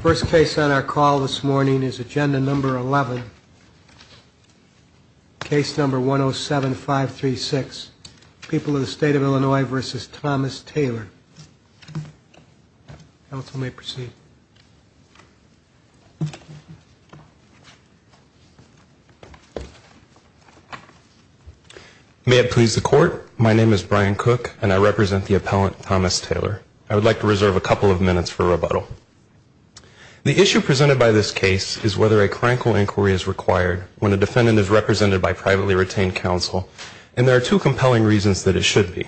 First case on our call this morning is agenda number 11. Case number 107536. People of the State of Illinois v. Thomas Taylor. Counsel may proceed. May it please the court. My name is Brian Cook and I represent the appellant Thomas Taylor. I would like to reserve a couple of minutes for rebuttal. The issue presented by this case is whether a crankle inquiry is required when a defendant is represented by privately retained counsel. And there are two compelling reasons that it should be.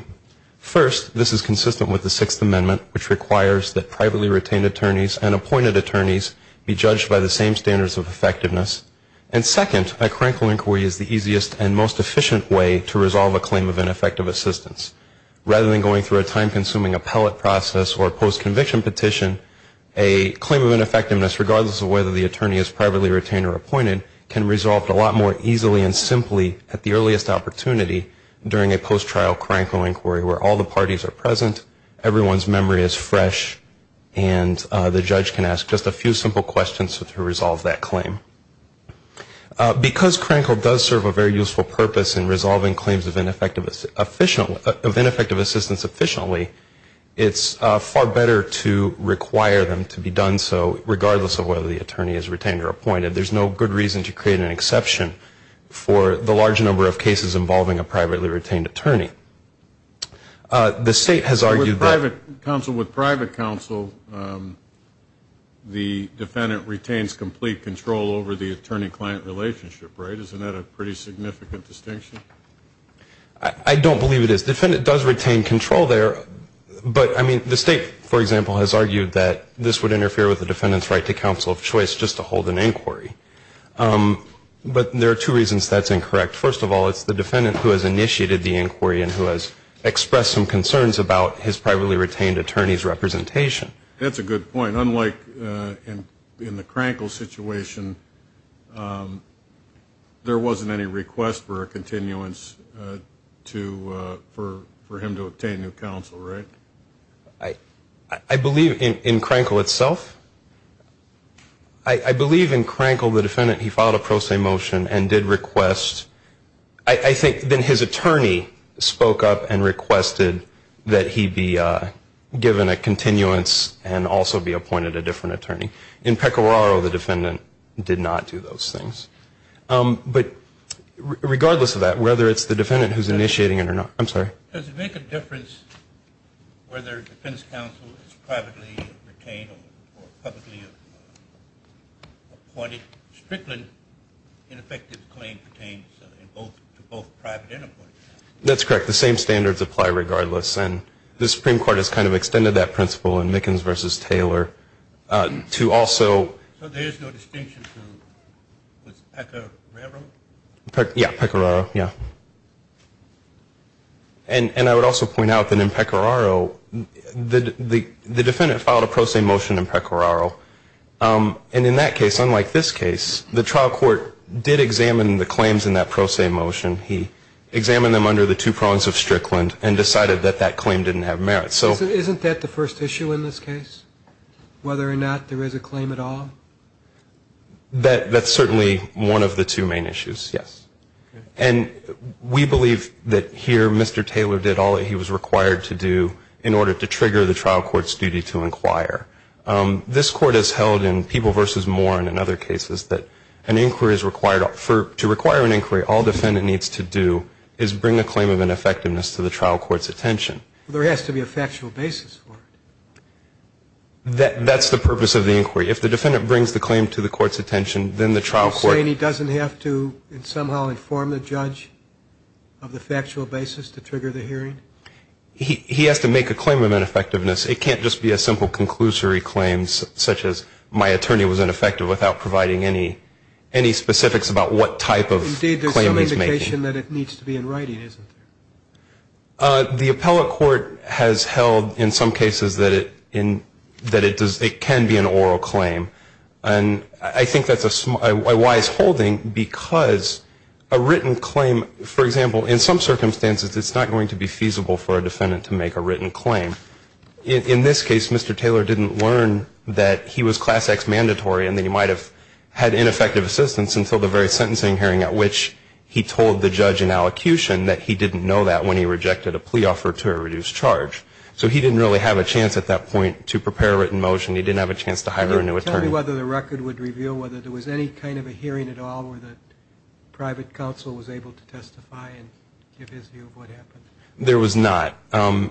First, this is consistent with the Sixth Amendment, which requires that privately retained attorneys and appointed attorneys be judged by the same standards of effectiveness. And second, a crankle inquiry is the easiest and most efficient way to resolve a claim of ineffective assistance. Rather than going through a time-consuming appellate process or a post-conviction petition, a claim of ineffectiveness, regardless of whether the attorney is privately retained or appointed, can be resolved a lot more easily and simply at the earliest opportunity during a post-trial crankle inquiry where all the parties are present, everyone's memory is fresh, and the judge can ask just a few simple questions to resolve that claim. Because crankle does serve a very useful purpose in resolving claims of ineffective assistance efficiently, it's far better to require them to be done so regardless of whether the attorney is retained or appointed. There's no good reason to create an exception for the large number of cases involving a privately retained attorney. The state has argued that... I don't believe it is. The defendant does retain control there, but the state, for example, has argued that this would interfere with the defendant's right to counsel of choice just to hold an inquiry. But there are two reasons that's incorrect. First of all, it's the defendant who has initiated the inquiry and who has expressed some concerns about his privately retained attorney's representation. That's a good point. Unlike in the crankle situation, there wasn't any request for a continuance for him to obtain new counsel, right? I believe in crankle itself. I believe in crankle the defendant, he filed a pro se motion and did request. I think then his attorney spoke up and requested that he be given a continuance of the request. And also be appointed a different attorney. In Pecoraro, the defendant did not do those things. But regardless of that, whether it's the defendant who's initiating it or not. I'm sorry. Does it make a difference whether defense counsel is privately retained or publicly appointed? Strictly an effective claim pertains to both private and appointed. That's correct. The same standards apply regardless. And the Supreme Court has kind of extended that principle in Mickens v. Taylor to also. So there is no distinction to Pecoraro? Yeah, Pecoraro, yeah. And I would also point out that in Pecoraro, the defendant filed a pro se motion in Pecoraro. And in that case, unlike this case, the trial court did examine the claims in that pro se motion. He examined them under the two prongs of Strickland and decided that that claim didn't have merit. So isn't that the first issue in this case, whether or not there is a claim at all? That's certainly one of the two main issues, yes. And we believe that here Mr. Taylor did all that he was required to do in order to trigger the trial court's duty to inquire. This court has held in People v. Moran and other cases that an inquiry is required. To require an inquiry, all a defendant needs to do is bring a claim of ineffectiveness to the trial court's attention. There has to be a factual basis for it. That's the purpose of the inquiry. If the defendant brings the claim to the court's attention, then the trial court You're saying he doesn't have to somehow inform the judge of the factual basis to trigger the hearing? He has to make a claim of ineffectiveness. It can't just be a simple conclusory claim such as my attorney was ineffective without providing any specifics about what type of claim he's making. Indeed, there's some indication that it needs to be in writing, isn't there? The appellate court has held in some cases that it can be an oral claim. And I think that's a wise holding because a written claim, for example, in some circumstances, it's not going to be feasible for a defendant to make a written claim. In this case, Mr. Taylor didn't learn that he was Class X mandatory and that he might have had ineffective assistance until the very sentencing hearing at which he told the judge in allocution that he didn't know that when he rejected a plea offer to a reduced charge. So he didn't really have a chance at that point to prepare a written motion. He didn't have a chance to hire a new attorney. Tell me whether the record would reveal whether there was any kind of a hearing at all where the private counsel was able to testify and give his view of what happened. There was not. And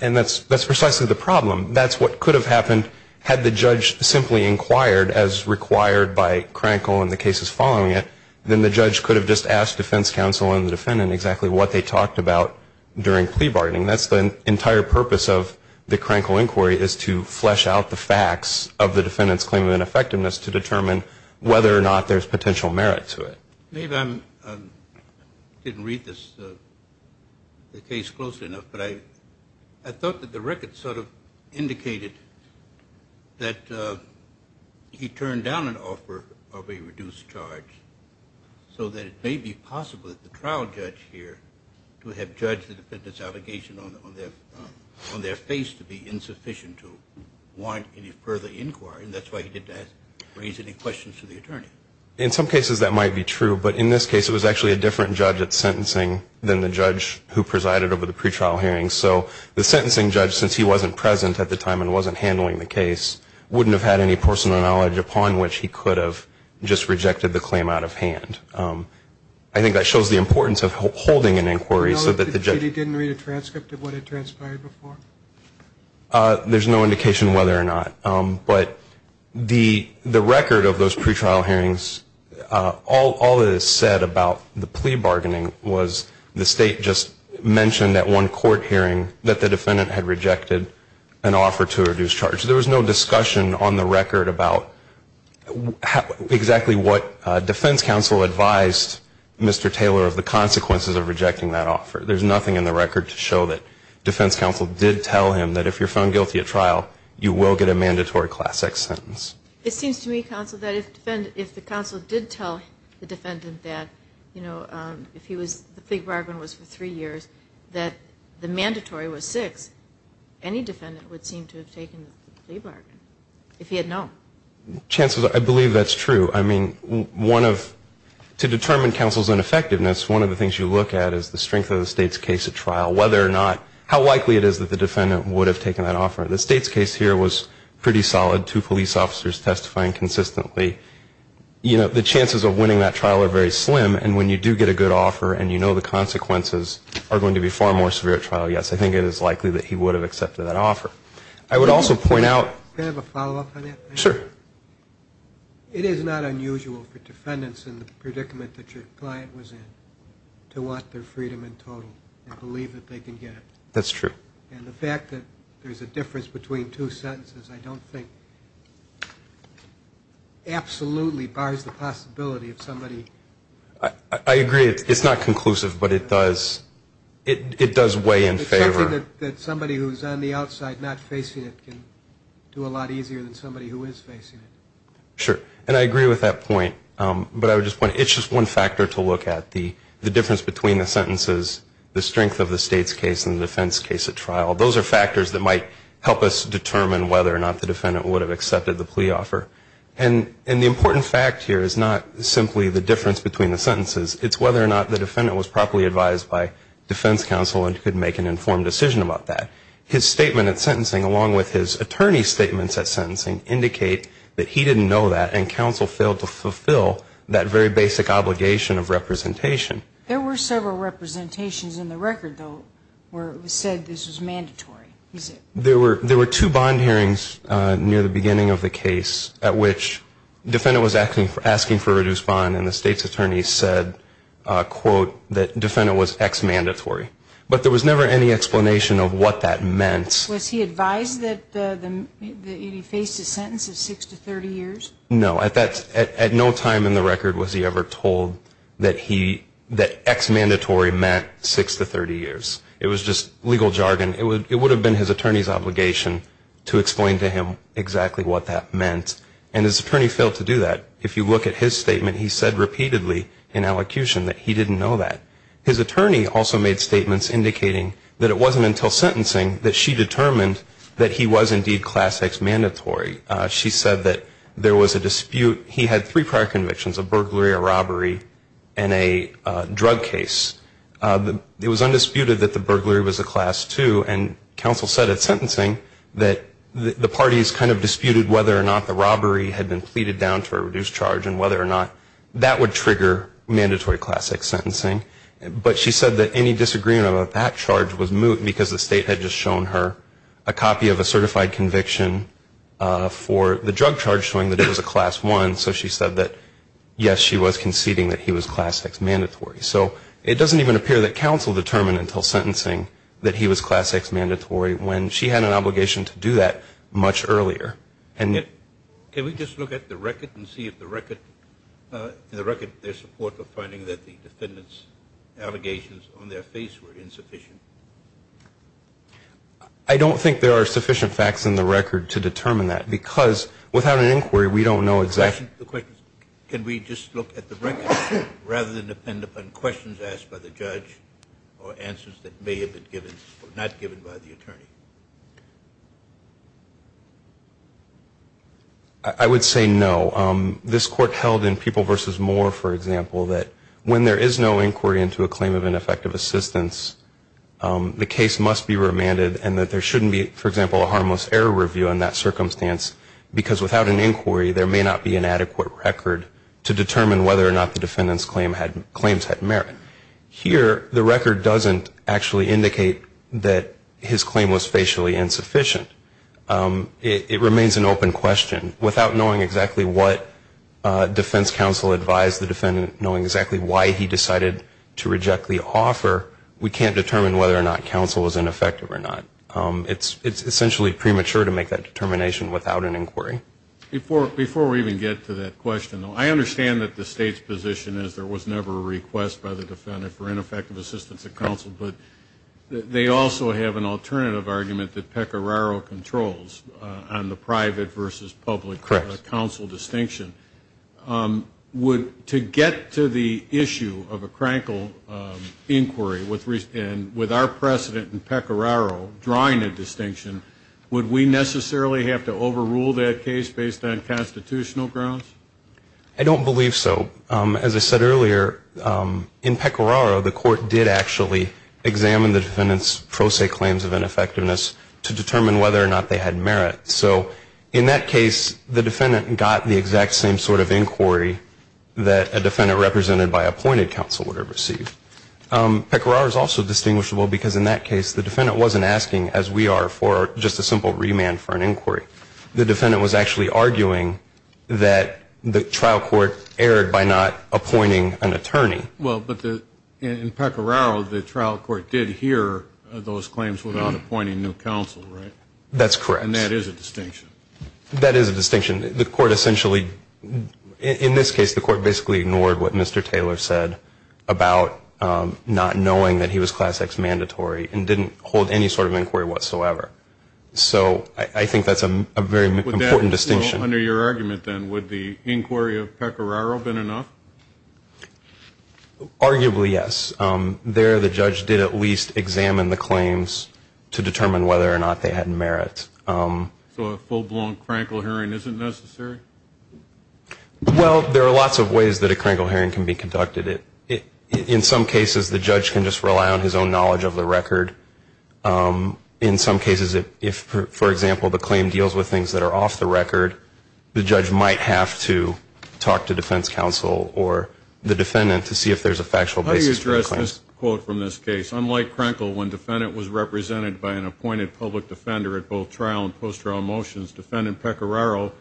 that's precisely the problem. That's what could have happened had the judge simply inquired as required by Krankel and the cases following it. Then the judge could have just asked defense counsel and the defendant exactly what they talked about during plea bargaining. That's the entire purpose of the Krankel inquiry is to flesh out the facts of the defendant's claim of ineffectiveness to determine whether or not there's potential merit to it. Maybe I didn't read the case closely enough, but I thought that the record sort of indicated that he turned down an offer of a reduced charge so that it may be possible that the trial judge here would have judged the defendant's allegation on their face to be insufficient to warrant any further inquiry. And that's why he didn't raise any questions to the attorney. In some cases that might be true, but in this case it was actually a different judge at sentencing than the judge who presided over the pretrial hearing. So the sentencing judge, since he wasn't present at the time and wasn't handling the case, wouldn't have had any personal knowledge upon which he could have just rejected the claim out of hand. I think that shows the importance of holding an inquiry so that the judge... The record of those pretrial hearings, all that is said about the plea bargaining was the state just mentioned at one court hearing that the defendant had rejected an offer to a reduced charge. There was no discussion on the record about exactly what defense counsel advised Mr. Taylor of the consequences of rejecting that offer. There's nothing in the record to show that defense counsel did tell him that if you're found guilty at trial, you will get a mandatory class X sentence. It seems to me, counsel, that if the counsel did tell the defendant that, you know, if the plea bargain was for three years, that the mandatory was six, any defendant would seem to have taken the plea bargain if he had known. Chancellor, I believe that's true. I mean, to determine counsel's ineffectiveness, one of the things you look at is the strength of the state's case at trial, whether or not, how likely it is that the defendant would have taken that offer. The state's case here was pretty solid, two police officers testifying consistently. You know, the chances of winning that trial are very slim. And when you do get a good offer and you know the consequences are going to be far more severe at trial, yes, I think it is likely that he would have accepted that offer. I would also point out. Can I have a follow-up on that? Sure. It is not unusual for defendants in the predicament that your client was in to want their freedom in total and believe that they can get it. That's true. And the fact that there's a difference between two sentences I don't think absolutely bars the possibility of somebody. I agree. It's not conclusive, but it does weigh in favor. It's something that somebody who's on the outside not facing it can do a lot easier than somebody who is facing it. Sure. And I agree with that point. But I would just point out, it's just one factor to look at, the difference between the sentences, the strength of the state's case and the defense case at trial. Those are factors that might help us determine whether or not the defendant would have accepted the plea offer. And the important fact here is not simply the difference between the sentences. It's whether or not the defendant was properly advised by defense counsel and could make an informed decision about that. His statement at sentencing, along with his attorney's statements at sentencing, indicate that he didn't know that and counsel failed to fulfill that very basic obligation of representation. There were several representations in the record, though, where it was said this was mandatory. There were two bond hearings near the beginning of the case at which the defendant was asking for reduced bond and the state's attorney said, quote, that defendant was ex-mandatory. But there was never any explanation of what that meant. Was he advised that he faced a sentence of six to 30 years? No. At no time in the record was he ever told that ex-mandatory meant six to 30 years. It was just legal jargon. It would have been his attorney's obligation to explain to him exactly what that meant. And his attorney failed to do that. If you look at his statement, he said repeatedly in allocution that he didn't know that. His attorney also made statements indicating that it wasn't until sentencing that she determined that he was indeed class ex-mandatory. She said that there was a dispute. He had three prior convictions, a burglary, a robbery, and a drug case. It was undisputed that the burglary was a class two. And counsel said at sentencing that the parties kind of disputed whether or not the robbery had been pleaded down to a reduced charge and whether or not that would trigger mandatory class ex-sentencing. But she said that any disagreement about that charge was moot because the state had just shown her a copy of a certified conviction for the drug charge showing that it was a class one. So she said that, yes, she was conceding that he was class ex-mandatory. So it doesn't even appear that counsel determined until sentencing that he was class ex-mandatory when she had an obligation to do that much earlier. Can we just look at the record and see if the record, in the record there's support for finding that the defendant's allegations on their face were insufficient? I don't think there are sufficient facts in the record to determine that because without an inquiry we don't know exactly. Can we just look at the record rather than depend upon questions asked by the judge or answers that may have been given or not given by the attorney? I would say no. This Court held in People v. Moore, for example, that when there is no inquiry into a claim of ineffective assistance, the case must be remanded and that there shouldn't be, for example, a harmless error review in that circumstance because without an inquiry there may not be an adequate record to determine whether or not the defendant's claims had merit. Here the record doesn't actually indicate that his claim was facially insufficient. It remains an open question. Without knowing exactly what defense counsel advised the defendant, knowing exactly why he decided to reject the offer, we can't determine whether or not counsel was ineffective or not. It's essentially premature to make that determination without an inquiry. Before we even get to that question, though, I understand that the State's position is there was never a request by the defendant for ineffective assistance of counsel, but they also have an alternative argument that Pecoraro controls on the private versus public counsel distinction. To get to the issue of a crankle inquiry and with our precedent in Pecoraro drawing a distinction, would we necessarily have to overrule that case based on constitutional grounds? I don't believe so. As I said earlier, in Pecoraro the Court did actually examine the defendant's pro se claims of ineffectiveness to determine whether or not they had merit. So in that case the defendant got the exact same sort of inquiry that a defendant represented by appointed counsel would have received. Pecoraro is also distinguishable because in that case the defendant wasn't asking, as we are, for just a simple remand for an inquiry. The defendant was actually arguing that the trial court erred by not appointing an attorney. Well, but in Pecoraro the trial court did hear those claims without appointing new counsel, right? That's correct. And that is a distinction. That is a distinction. The Court essentially, in this case the Court basically ignored what Mr. Taylor said about not knowing that he was Class X mandatory and didn't hold any sort of inquiry whatsoever. So I think that's a very important distinction. Under your argument then, would the inquiry of Pecoraro have been enough? Arguably, yes. There the judge did at least examine the claims to determine whether or not they had merit. So a full-blown crankle hearing isn't necessary? Well, there are lots of ways that a crankle hearing can be conducted. In some cases the judge can just rely on his own knowledge of the record. In some cases if, for example, the claim deals with things that are off the record, the judge might have to talk to defense counsel or the defendant to see if there's a factual basis for the claim. Just a quote from this case. Unlike crankle, when defendant was represented by an appointed public defender at both trial and post-trial motions, defendant Pecoraro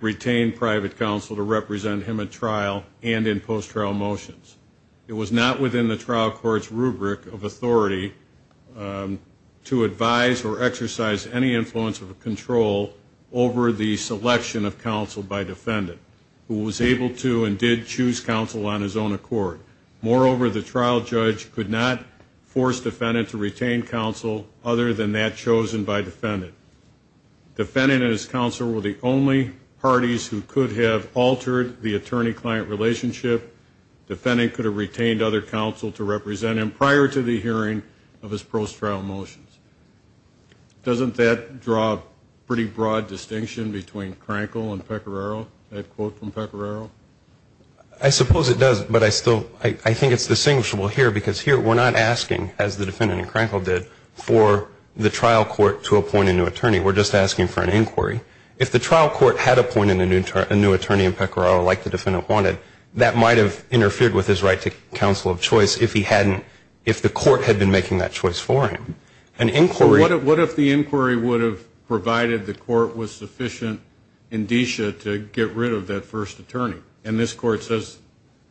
retained private counsel to represent him at trial and in post-trial motions. It was not within the trial court's rubric of authority to advise or exercise any influence or control over the selection of counsel by defendant, who was able to and did choose counsel on his own accord. Moreover, the trial judge could not force defendant to retain counsel other than that chosen by defendant. Defendant and his counsel were the only parties who could have altered the attorney-client relationship. Defendant could have retained other counsel to represent him prior to the hearing of his post-trial motions. Doesn't that draw a pretty broad distinction between crankle and Pecoraro, that quote from Pecoraro? I suppose it does, but I think it's distinguishable here, because here we're not asking, as the defendant in crankle did, for the trial court to appoint a new attorney. We're just asking for an inquiry. If the trial court had appointed a new attorney in Pecoraro, like the defendant wanted, that might have interfered with his right to counsel of choice if the court had been making that choice for him. So what if the inquiry would have provided the court with sufficient indicia to get rid of that first attorney? And this court says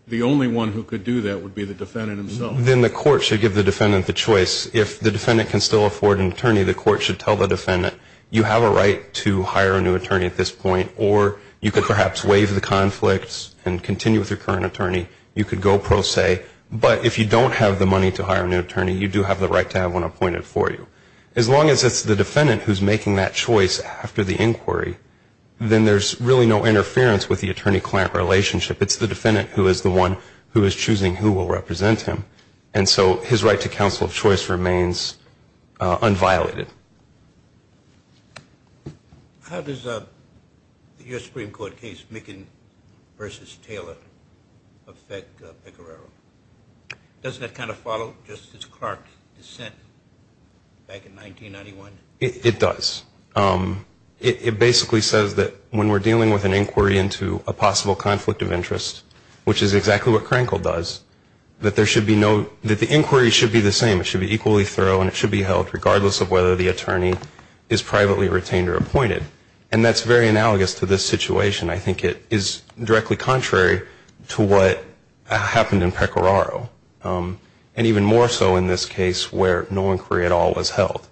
the only one who could do that would be the defendant himself. Then the court should give the defendant the choice. If the defendant can still afford an attorney, the court should tell the defendant, you have a right to hire a new attorney at this point, or you could perhaps waive the conflicts and continue with your current attorney. You could go pro se, but if you don't have the money to hire a new attorney, you do have the right to have one appointed for you. As long as it's the defendant who's making that choice after the inquiry, then there's really no interference with the attorney-client relationship. It's the defendant who is the one who is choosing who will represent him. And so his right to counsel of choice remains unviolated. How does your Supreme Court case, Micken v. Taylor, affect Pecoraro? Doesn't it kind of follow Justice Clark's dissent back in 1991? It does. It basically says that when we're dealing with an inquiry into a possible conflict of interest, which is exactly what Crankle does, that the inquiry should be the same. It should be equally thorough, and it should be held regardless of whether the attorney is privately retained or appointed. And that's very analogous to this situation. I think it is directly contrary to what happened in Pecoraro, and even more so in this case where no inquiry at all was held.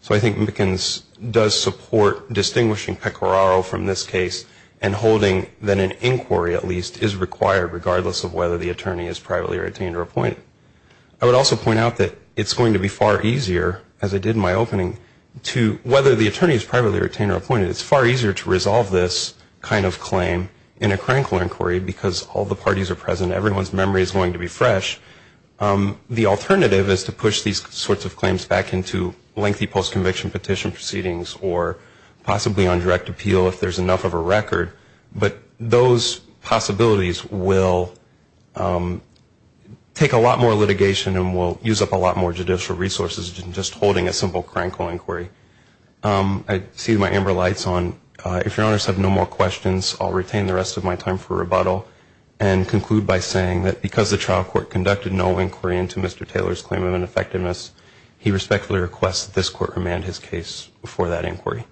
So I think Mickens does support distinguishing Pecoraro from this case and holding that an inquiry, at least, is required regardless of whether the attorney is privately retained or appointed. I would also point out that it's going to be far easier, as I did in my opening, to whether the attorney is privately retained or appointed. It's far easier to resolve this kind of claim in a Crankle inquiry because all the parties are present and everyone's memory is going to be fresh. The alternative is to push these sorts of claims back into lengthy post-conviction petition proceedings or possibly on direct appeal if there's enough of a record. But those possibilities will take a lot more litigation and will use up a lot more judicial resources than just holding a simple Crankle inquiry. I see my amber lights on. If Your Honors have no more questions, I'll retain the rest of my time for rebuttal and conclude by saying that because the trial court conducted no inquiry into Mr. Taylor's claim of ineffectiveness, he respectfully requests that this court remand his case before that inquiry.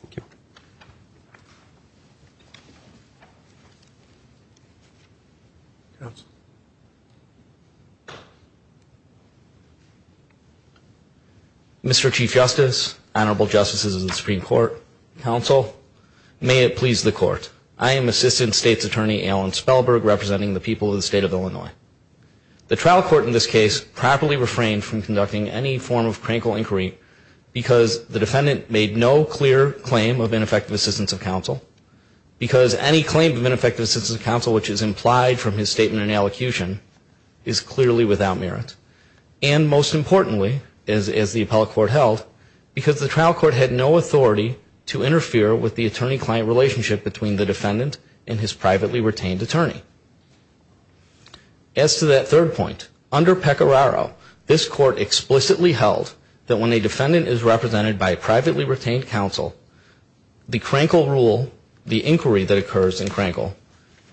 Thank you. Mr. Chief Justice, Honorable Justices of the Supreme Court, Counsel, may it please the Court. I am Assistant State's Attorney Alan Spellberg, representing the people of the State of Illinois. The trial court in this case properly refrained from conducting any form of Crankle inquiry because any claim of ineffective assistance of counsel, which is implied from his statement and elocution, is clearly without merit. And most importantly, as the appellate court held, because the trial court had no authority to interfere with the attorney-client relationship between the defendant and his privately retained attorney. As to that third point, under Pecoraro, this court explicitly held that when a defendant is represented by a privately retained counsel, the Crankle rule, the inquiry that occurs in Crankle,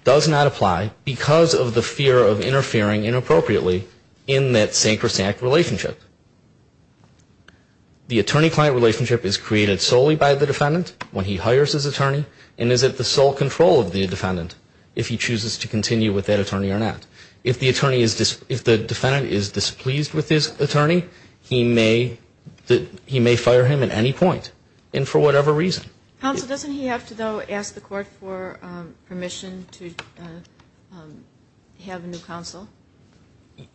does not apply because of the fear of interfering inappropriately in that sacrosanct relationship. The attorney-client relationship is created solely by the defendant when he hires his attorney, and is at the sole control of the defendant if he chooses to continue with that attorney or not. If the defendant is displeased with his attorney, he may fire him at any point, and for whatever reason. Counsel, doesn't he have to, though, ask the court for permission to have a new counsel?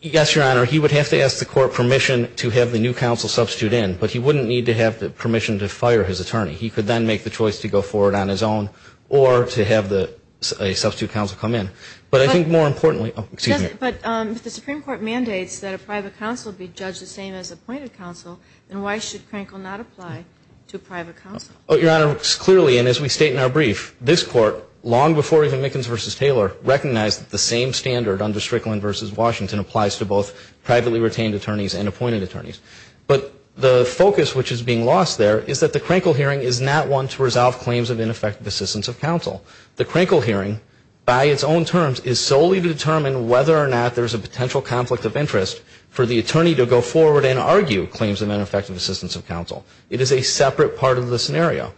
Yes, Your Honor, he would have to ask the court permission to have the new counsel substitute in, but he wouldn't need to have permission to fire his attorney. He could then make the choice to go forward on his own or to have a substitute counsel come in. But I think more importantly, oh, excuse me. But if the Supreme Court mandates that a private counsel be judged the same as appointed counsel, then why should Crankle not apply to a private counsel? Oh, Your Honor, clearly, and as we state in our brief, this court, long before even Mickens v. Taylor, recognized the same standard under Strickland v. Washington applies to both privately retained attorneys and appointed attorneys. But the focus which is being lost there is that the Crankle hearing is not one to resolve claims of ineffective assistance of counsel. The Crankle hearing, by its own terms, is solely to determine whether or not there's a potential conflict of interest for the attorney to go forward and argue claims of ineffective assistance of counsel. It is a separate part of the scenario.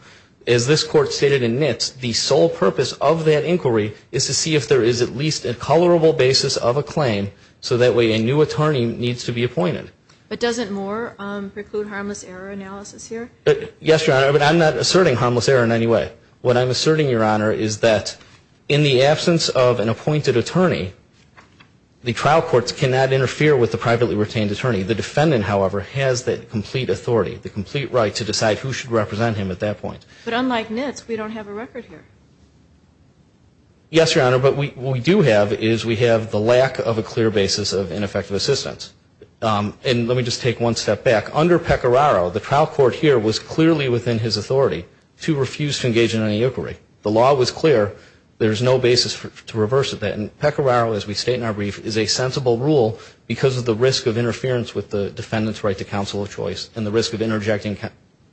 As this Court stated in Nitz, the sole purpose of that inquiry is to see if there is at least a colorable basis of a claim so that way a new attorney needs to be appointed. But doesn't more preclude harmless error analysis here? Yes, Your Honor, but I'm not asserting harmless error in any way. What I'm asserting, Your Honor, is that in the absence of an appointed attorney, the trial courts cannot interfere with the privately retained attorney. The defendant, however, has the complete authority, the complete right to decide who should represent him at that point. But unlike Nitz, we don't have a record here. Yes, Your Honor, but what we do have is we have the lack of a clear basis of ineffective assistance. And let me just take one step back. Under Pecoraro, the trial court here was clearly within his authority to refuse to engage in any inquiry. The law was clear. There is no basis to reverse that. And Pecoraro, as we state in our brief, is a sensible rule because of the risk of interference with the defendant's right to counsel of choice and the risk of interjecting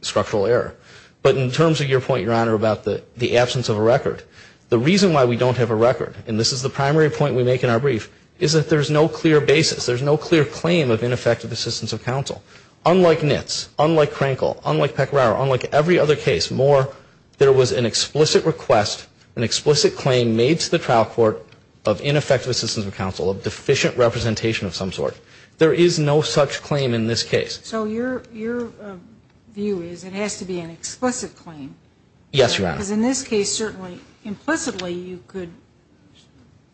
structural error. But in terms of your point, Your Honor, about the absence of a record, the reason why we don't have a record, and this is the primary point we make in our brief, is that there is no clear basis, there is no clear claim of ineffective assistance of counsel. Unlike Nitz, unlike Crankle, unlike Pecoraro, unlike every other case, Moore, there was an explicit request, an explicit claim made to the trial court of ineffective assistance of counsel, of deficient representation of some sort. There is no such claim in this case. So your view is it has to be an explicit claim. Yes, Your Honor. Because in this case, certainly, implicitly, you could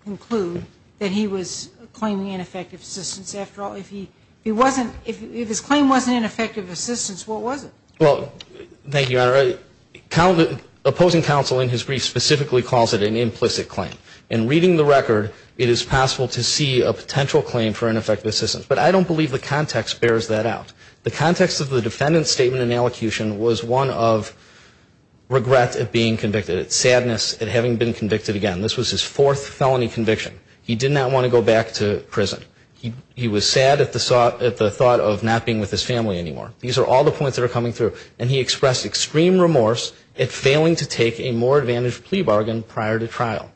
conclude that he was claiming ineffective assistance. After all, if he wasn't, if his claim wasn't ineffective assistance, what was it? Well, thank you, Your Honor. Opposing counsel in his brief specifically calls it an implicit claim. In reading the record, it is possible to see a potential claim for ineffective assistance. But I don't believe the context bears that out. The context of the defendant's statement in elocution was one of regret at being convicted, sadness at having been convicted again. This was his fourth felony conviction. He did not want to go back to prison. He was sad at the thought of not being with his family anymore. These are all the points that are coming through. And he expressed extreme remorse at failing to take a more advantaged plea bargain prior to trial.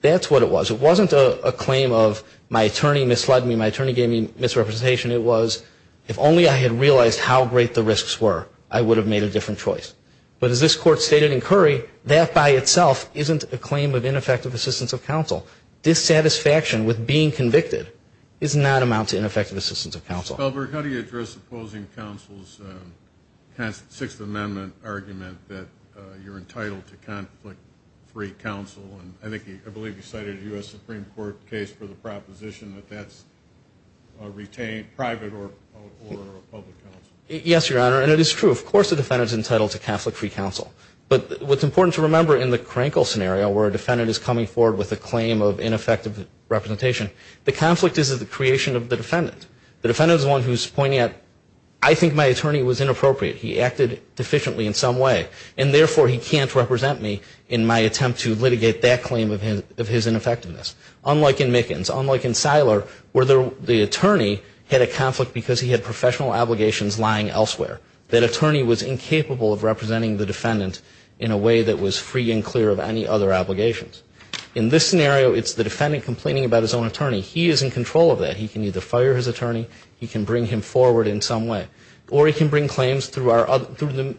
That's what it was. It wasn't a claim of my attorney misled me, my attorney gave me misrepresentation. It was if only I had realized how great the risks were, I would have made a different choice. But as this Court stated in Curry, that by itself isn't a claim of ineffective assistance of counsel. Dissatisfaction with being convicted does not amount to ineffective assistance of counsel. How do you address opposing counsel's Sixth Amendment argument that you're entitled to conflict-free counsel? I believe you cited a U.S. Supreme Court case for the proposition that that's retained private or public counsel. Yes, Your Honor. And it is true. Of course a defendant is entitled to conflict-free counsel. But what's important to remember in the Krenkel scenario where a defendant is coming forward with a claim of ineffective representation, the conflict is the creation of the defendant. The defendant is the one who's pointing out, I think my attorney was inappropriate. He acted deficiently in some way. And therefore he can't represent me in my attempt to litigate that claim of his ineffectiveness. Unlike in Mickens. Unlike in Siler where the attorney had a conflict because he had professional obligations lying elsewhere. That attorney was incapable of representing the defendant in a way that was free and clear of any other obligations. In this scenario, it's the defendant complaining about his own attorney. He is in control of that. He can either fire his attorney, he can bring him forward in some way. Or he can bring claims through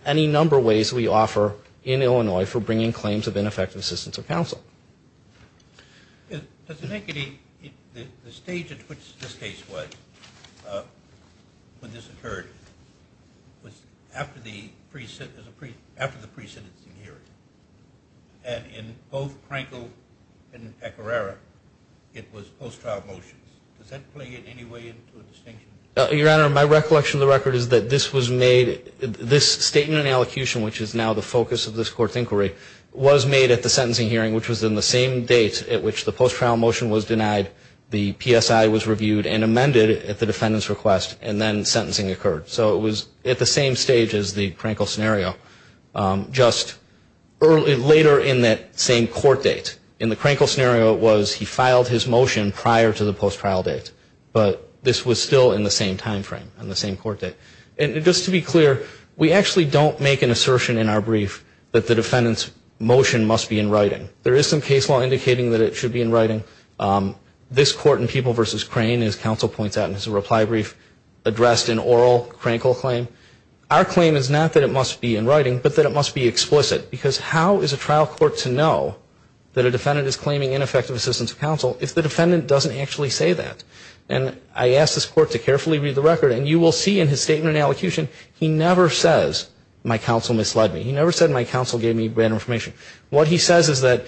any number of ways we offer in Illinois for bringing claims of ineffective assistance of counsel. Does it make any, the stage at which this case was, when this occurred, was after the pre-sentencing hearing. And in both Krenkel and Pecoraro, it was post-trial motions. Does that play in any way into a distinction? Your Honor, my recollection of the record is that this was made, this statement and allocution, which is now the focus of this court's inquiry, was made at the same date at which the post-trial motion was denied, the PSI was reviewed and amended at the defendant's request, and then sentencing occurred. So it was at the same stage as the Krenkel scenario, just later in that same court date. In the Krenkel scenario, it was he filed his motion prior to the post-trial date. But this was still in the same time frame, in the same court date. And just to be clear, we actually don't make an assertion in our brief that the defendant's motion must be in writing. There is some case law indicating that it should be in writing. This court in People v. Crane, as counsel points out in his reply brief, addressed an oral Krenkel claim. Our claim is not that it must be in writing, but that it must be explicit. Because how is a trial court to know that a defendant is claiming ineffective assistance of counsel if the defendant doesn't actually say that? And I asked this court to carefully read the record, and you will see in his statement and allocution, he never says, my counsel misled me. He never said my counsel gave me bad information. What he says is that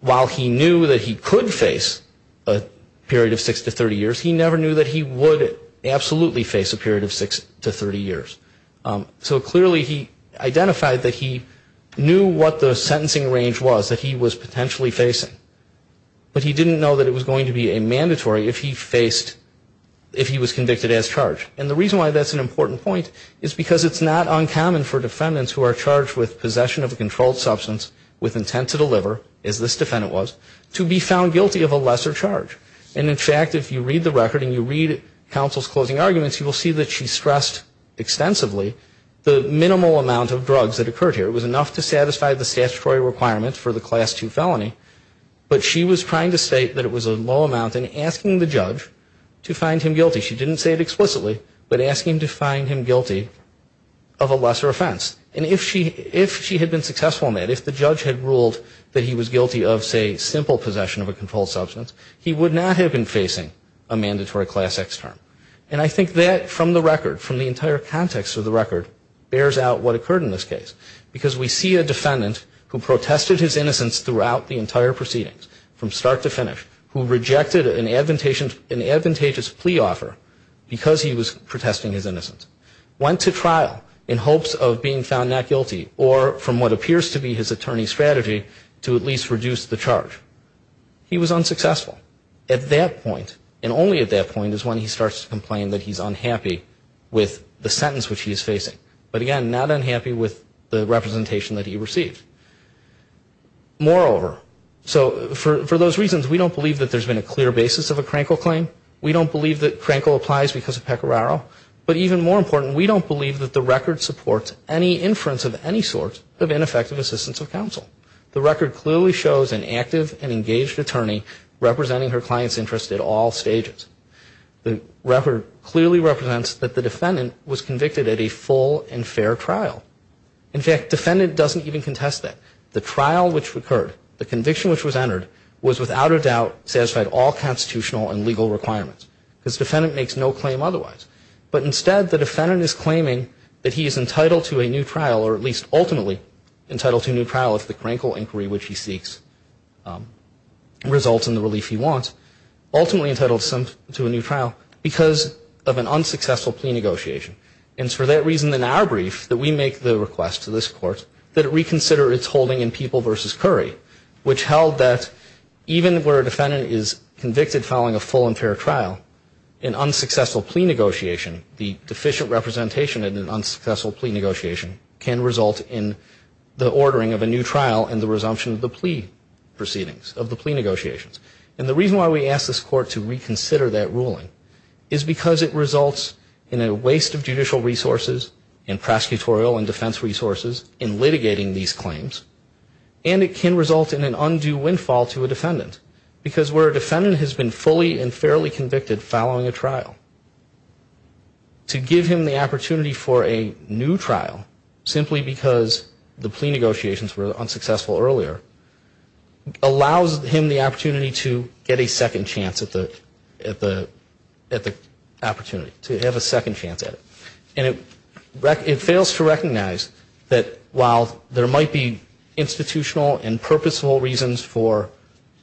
while he knew that he could face a period of 6 to 30 years, he never knew that he would absolutely face a period of 6 to 30 years. So clearly he identified that he knew what the sentencing range was that he was potentially facing. But he didn't know that it was going to be a mandatory if he faced, if he was convicted as charged. And the reason why that's an important point is because it's not uncommon for defendants with intent to deliver, as this defendant was, to be found guilty of a lesser charge. And in fact, if you read the record and you read counsel's closing arguments, you will see that she stressed extensively the minimal amount of drugs that occurred here. It was enough to satisfy the statutory requirements for the Class II felony, but she was trying to state that it was a low amount and asking the judge to find him guilty. She didn't say it explicitly, but asking to find him guilty of a lesser offense. And if she had been successful in that, if the judge had ruled that he was guilty of, say, simple possession of a controlled substance, he would not have been facing a mandatory Class X term. And I think that, from the record, from the entire context of the record, bears out what occurred in this case. Because we see a defendant who protested his innocence throughout the entire proceedings, from start to finish, who rejected an advantageous plea offer because he was protesting his innocence, went to trial in hopes of being found not guilty, or from what appears to be his attorney's strategy, to at least reduce the charge. He was unsuccessful. At that point, and only at that point, is when he starts to complain that he's unhappy with the sentence which he is facing, but again, not unhappy with the representation that he received. Moreover, so for those reasons, we don't believe that there's been a clear basis of a Crankle claim. We don't believe that Crankle applies because of Pecoraro. But even more important, we don't believe that the record supports any inference of any sort of ineffective assistance of counsel. The record clearly shows an active and engaged attorney representing her client's interests at all stages. The record clearly represents that the defendant was convicted at a full and fair trial. In fact, defendant doesn't even contest that. The trial which occurred, the conviction which was entered, was without a doubt satisfied all constitutional and legal requirements. Because defendant makes no claim otherwise. But instead, the defendant is claiming that he is entitled to a new trial, or at least ultimately entitled to a new trial if the Crankle inquiry, which he seeks, results in the relief he wants. Ultimately entitled to a new trial because of an unsuccessful plea negotiation. And it's for that reason in our brief that we make the request to this court that it reconsider its holding in People v. Curry, which held that even where a defendant is convicted following a full and fair trial, an unsuccessful plea negotiation, the deficient representation in an unsuccessful plea negotiation, can result in the ordering of a new trial and the resumption of the plea proceedings, of the plea negotiations. And the reason why we ask this court to reconsider that ruling is because it results in a waste of judicial resources and prosecutorial and defense resources in litigating these claims. And it can result in an undue windfall to a defendant because where a defendant is convicted following a trial. To give him the opportunity for a new trial simply because the plea negotiations were unsuccessful earlier allows him the opportunity to get a second chance at the opportunity, to have a second chance at it. And it fails to recognize that while there might be institutional and purposeful reasons for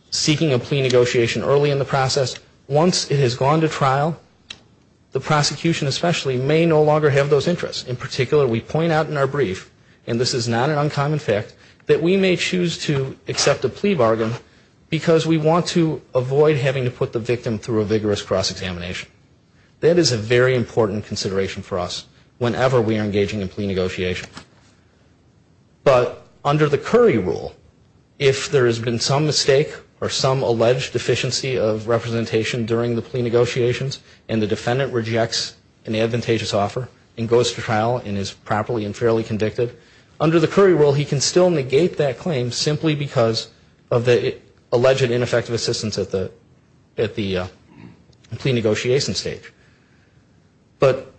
seeking a plea negotiation early in the process, once it has gone to trial, the prosecution especially may no longer have those interests. In particular, we point out in our brief, and this is not an uncommon fact, that we may choose to accept a plea bargain because we want to avoid having to put the victim through a vigorous cross-examination. That is a very important consideration for us whenever we are engaging in plea negotiation. But under the Curry rule, if there has been some mistake or some alleged deficiency of representation during the plea negotiations and the defendant rejects an advantageous offer and goes to trial and is properly and fairly convicted, under the Curry rule he can still negate that claim simply because of the alleged ineffective assistance at the plea negotiation stage. But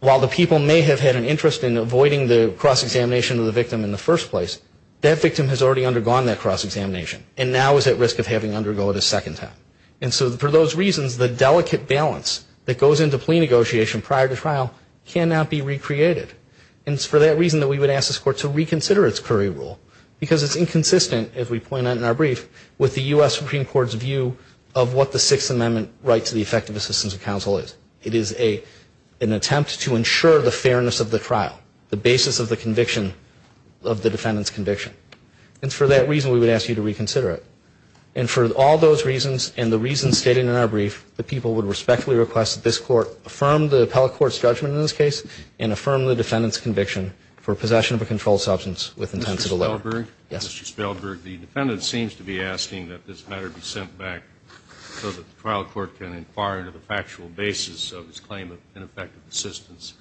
while the people may have had an interest in avoiding the cross-examination of the victim in the first place, that victim has already undergone that cross-examination and now is at risk of having to undergo it a second time. And so for those reasons, the delicate balance that goes into plea negotiation prior to trial cannot be recreated. And it's for that reason that we would ask this Court to reconsider its Curry rule because it's inconsistent, as we point out in our brief, with the U.S. Supreme Court's view of what the Sixth Amendment right to the effective assistance of counsel is. It is an attempt to ensure the fairness of the trial, the basis of the defendant's conviction. And for that reason, we would ask you to reconsider it. And for all those reasons and the reasons stated in our brief, the people would respectfully request that this Court affirm the appellate court's judgment in this case and affirm the defendant's conviction for possession of a controlled substance with intent to deliver. Mr. Spelberg? Yes. Mr. Spelberg, the defendant seems to be asking that this matter be sent back so that the trial court can inquire into the factual basis of his claim of ineffective assistance.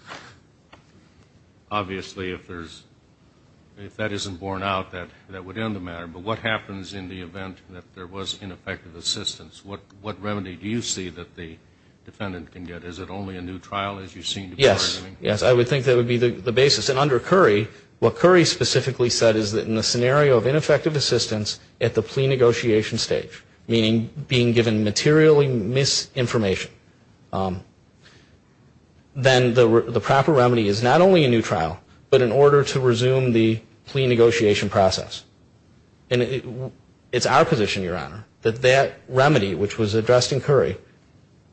Obviously, if that isn't borne out, that would end the matter. But what happens in the event that there was ineffective assistance? What remedy do you see that the defendant can get? Is it only a new trial, as you seem to be arguing? Yes. Yes. I would think that would be the basis. And under Curry, what Curry specifically said is that in the scenario of ineffective assistance at the plea negotiation stage, meaning being given materially misinformation, then the proper remedy is not only a new trial, but in order to resume the plea negotiation process. And it's our position, Your Honor, that that remedy, which was addressed in Curry,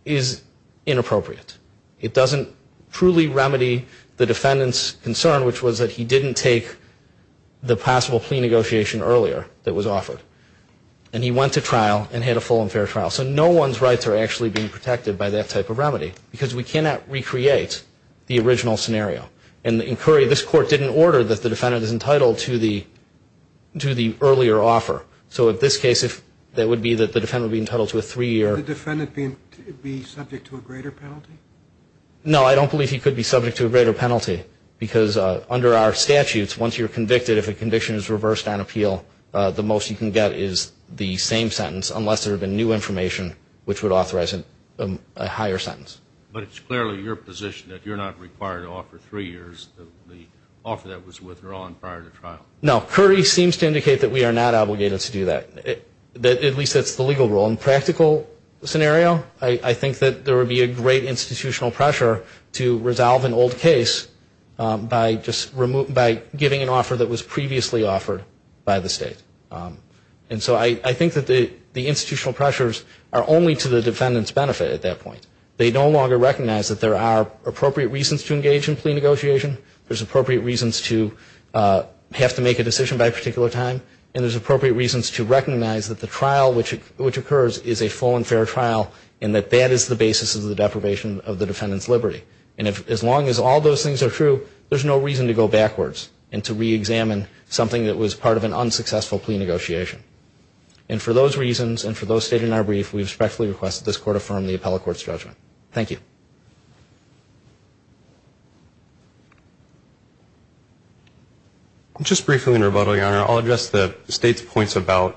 is inappropriate. It doesn't truly remedy the defendant's concern, which was that he didn't take the possible plea negotiation earlier that was offered. And he went to trial and had a full and fair trial. So no one's rights are actually being protected by that type of remedy, because we cannot recreate the original scenario. And in Curry, this Court didn't order that the defendant is entitled to the earlier offer. So in this case, if that would be that the defendant would be entitled to a three-year. Could the defendant be subject to a greater penalty? No, I don't believe he could be subject to a greater penalty, because under our statutes, once you're convicted, if a conviction is reversed on appeal, the most you can get is the same sentence unless there had been new information, which would authorize a higher sentence. But it's clearly your position that you're not required to offer three years of the offer that was withdrawn prior to trial. No, Curry seems to indicate that we are not obligated to do that. At least that's the legal rule. In a practical scenario, I think that there would be a great institutional pressure to resolve an old case by giving an offer that was previously offered by the state. And so I think that the institutional pressures are only to the defendant's benefit at that point. They no longer recognize that there are appropriate reasons to engage in plea negotiation. There's appropriate reasons to have to make a decision by a particular time. And there's appropriate reasons to recognize that the trial which occurs is a full and fair trial, and that that is the basis of the deprivation of the defendant's liberty. And as long as all those things are true, there's no reason to go backwards and to reexamine something that was part of an unsuccessful plea negotiation. And for those reasons and for those stated in our brief, we respectfully request that this court affirm the appellate court's judgment. Thank you. Just briefly in rebuttal, Your Honor, I'll address the state's points about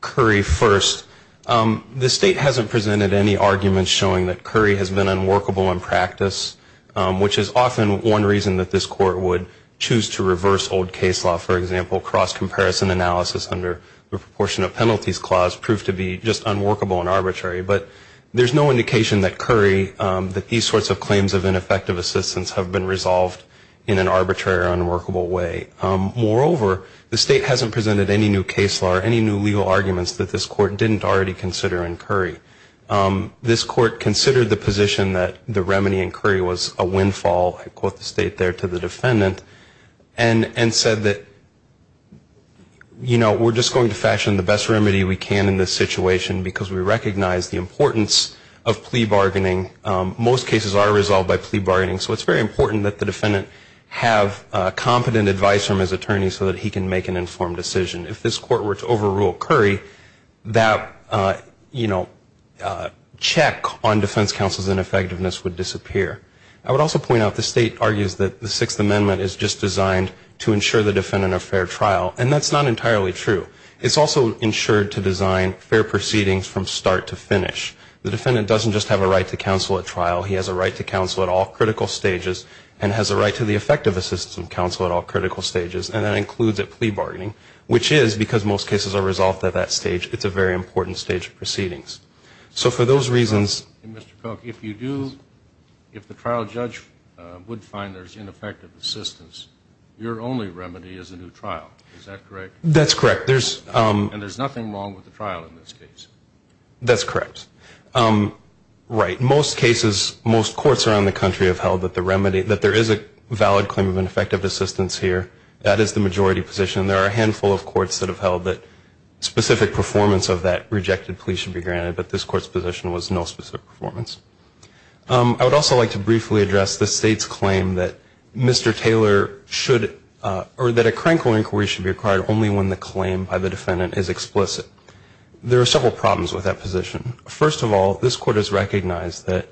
Curry first. The state hasn't presented any arguments showing that Curry has been unworkable in practice, which is often one reason that this court would choose to reverse old case law. For example, cross-comparison analysis under the proportion of penalties clause proved to be just unworkable and arbitrary. But there's no indication that Curry, that these sorts of claims of ineffective assistance have been resolved in an arbitrary or unworkable way. Moreover, the state hasn't presented any new case law or any new legal arguments that this court didn't already consider in Curry. This court considered the position that the remedy in Curry was a windfall, I quote the state there, to the defendant and said that, you know, we're just going to fashion the best remedy we can in this situation because we recognize the importance of plea bargaining. Most cases are resolved by plea bargaining, so it's very important that the defendant have competent advice from his attorney so that he can make an informed decision. If this court were to overrule Curry, that, you know, check on defense counsel's ineffectiveness would disappear. I would also point out the state argues that the Sixth Amendment is just designed to ensure the defendant a fair trial, and that's not entirely true. It's also ensured to design fair proceedings from start to finish. The defendant doesn't just have a right to counsel at trial. He has a right to counsel at all critical stages and has a right to the effective assistance of counsel at all critical stages, and that includes at plea bargaining, which is because most cases are resolved at that stage. It's a very important stage of proceedings. So for those reasons. Mr. Cook, if you do, if the trial judge would find there's ineffective assistance, your only remedy is a new trial. Is that correct? That's correct. And there's nothing wrong with the trial in this case. That's correct. Right. Most cases, most courts around the country have held that the remedy, that there is a valid claim of ineffective assistance here. That is the majority position. There are a handful of courts that have held that specific performance of that rejected plea should be granted, but this court's position was no specific performance. I would also like to briefly address the state's claim that Mr. Taylor should or that a crank or inquiry should be required only when the claim by the defendant is explicit. There are several problems with that position. First of all, this court has recognized that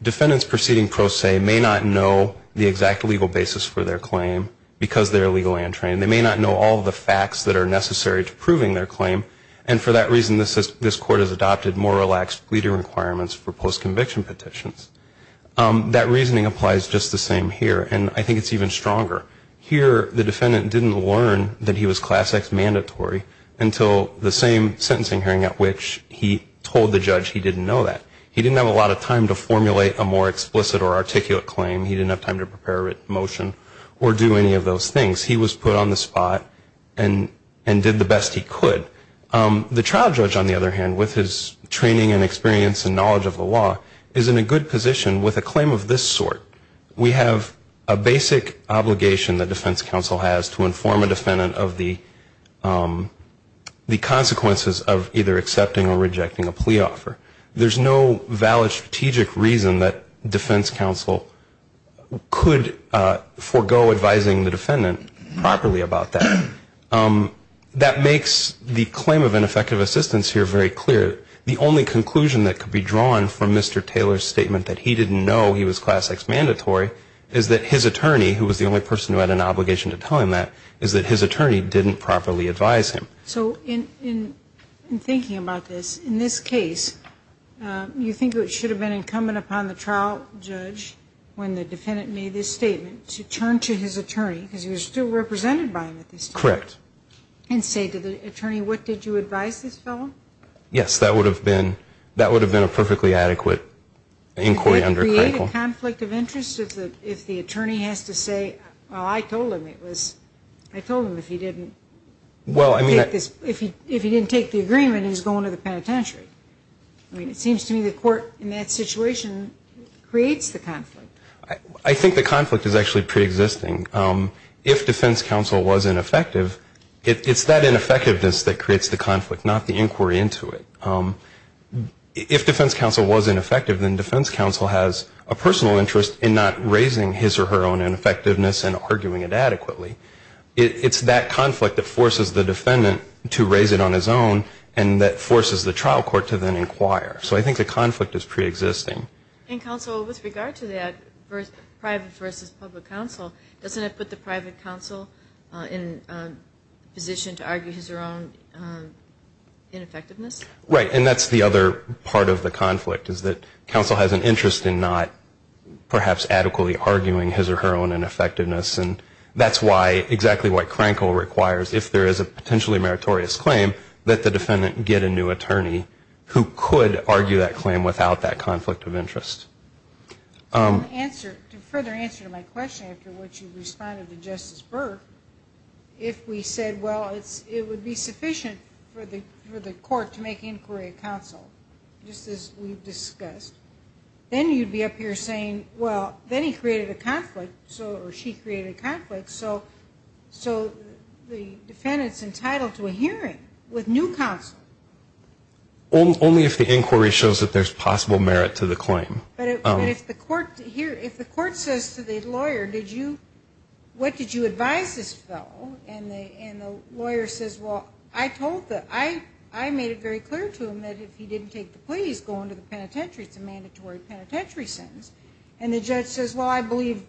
defendants proceeding pro se may not know the facts that are necessary to proving their claim. And for that reason, this court has adopted more relaxed leader requirements for post-conviction petitions. That reasoning applies just the same here. And I think it's even stronger. Here, the defendant didn't learn that he was class X mandatory until the same sentencing hearing at which he told the judge he didn't know that. He didn't have a lot of time to formulate a more explicit or articulate claim. He didn't have time to prepare a written motion or do any of those things. He was put on the spot and did the best he could. The trial judge, on the other hand, with his training and experience and knowledge of the law, is in a good position with a claim of this sort. We have a basic obligation that defense counsel has to inform a defendant of the consequences of either accepting or rejecting a plea offer. There's no valid strategic reason that defense counsel could forego advising the defendant properly about that. That makes the claim of ineffective assistance here very clear. The only conclusion that could be drawn from Mr. Taylor's statement that he didn't know he was class X mandatory is that his attorney, who was the only person who had an obligation to tell him that, is that his attorney didn't properly advise him. So in thinking about this, in this case, you think it should have been incumbent upon the trial judge, when the defendant made this statement, to turn to his attorney, because he was still represented by him at this time. Correct. And say to the attorney, what did you advise this fellow? Yes, that would have been a perfectly adequate inquiry under Crankle. Would that create a conflict of interest if the attorney has to say, well, I told him it was, I told him if he didn't. Well, I mean. If he didn't take the agreement, he was going to the penitentiary. I mean, it seems to me the court in that situation creates the conflict. I think the conflict is actually preexisting. If defense counsel was ineffective, it's that ineffectiveness that creates the conflict, not the inquiry into it. If defense counsel was ineffective, then defense counsel has a personal interest in not raising his or her own ineffectiveness and arguing it adequately. It's that conflict that forces the defendant to raise it on his own and that forces the trial court to then inquire. So I think the conflict is preexisting. And counsel, with regard to that, private versus public counsel, doesn't it put the private counsel in a position to argue his or her own ineffectiveness? Right. And that's the other part of the conflict, is that counsel has an interest in not perhaps adequately arguing his or her own ineffectiveness. And that's exactly what Krenkel requires. If there is a potentially meritorious claim, let the defendant get a new attorney who could argue that claim without that conflict of interest. To further answer my question, after which you responded to Justice Burke, if we said, well, it would be sufficient for the court to make inquiry of counsel, just as we've discussed, then you'd be up here saying, well, then he created a conflict, or she created a conflict. So the defendant's entitled to a hearing with new counsel. Only if the inquiry shows that there's possible merit to the claim. But if the court says to the lawyer, what did you advise this fellow? And the lawyer says, well, I made it very clear to him that if he didn't take the plea, he's going to the penitentiary. It's a mandatory penitentiary sentence. And the judge says, well, I believe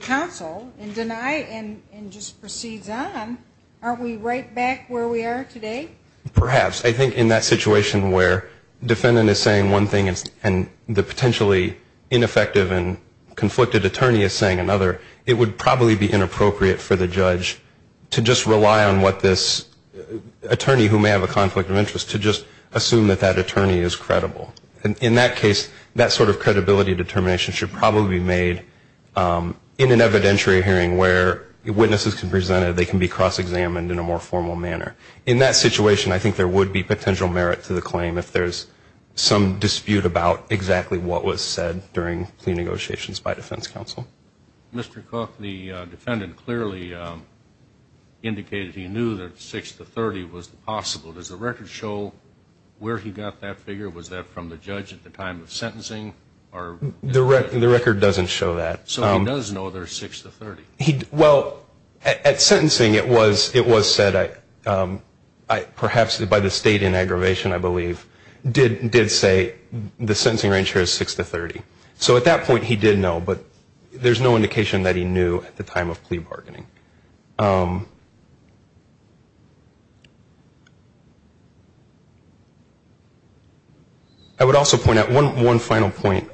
counsel and just proceeds on. Aren't we right back where we are today? Perhaps. I think in that situation where the defendant is saying one thing and the potentially ineffective and conflicted attorney is saying another, it would probably be inappropriate for the judge to just rely on what this attorney, who may have a conflict of interest, to just assume that that attorney is credible. And in that case, that sort of credibility determination should probably be made in an evidentiary hearing where witnesses can present it. They can be cross-examined in a more formal manner. In that situation, I think there would be potential merit to the claim if there's some dispute about exactly what was said during plea negotiations by defense counsel. Mr. Cook, the defendant clearly indicated he knew that 6 to 30 was possible. Does the record show where he got that figure? Was that from the judge at the time of sentencing? The record doesn't show that. So he does know there's 6 to 30? Well, at sentencing it was said, perhaps by the state in aggravation, I believe, did say the sentencing range here is 6 to 30. So at that point he did know, but there's no indication that he knew at the time of plea bargaining. I would also point out one final point.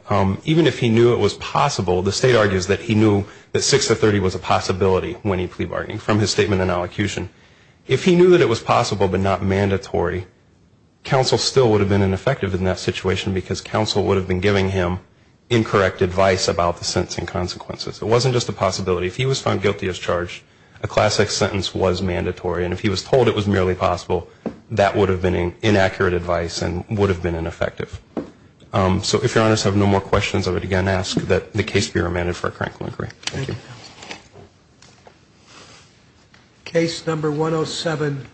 Even if he knew it was possible, the state argues that he knew that 6 to 30 was a possibility when he plea bargained from his statement and elocution. If he knew that it was possible but not mandatory, counsel still would have been ineffective in that situation because counsel would have been giving him incorrect advice about the sentencing consequences. It wasn't just a possibility. If he was found guilty as charged, a classic sentence was mandatory, and if he was told it was merely possible, that would have been inaccurate advice and would have been ineffective. So if Your Honors have no more questions, I would again ask that the case be remanded for a current clinical inquiry. Thank you. Thank you, counsel. Case number 107536.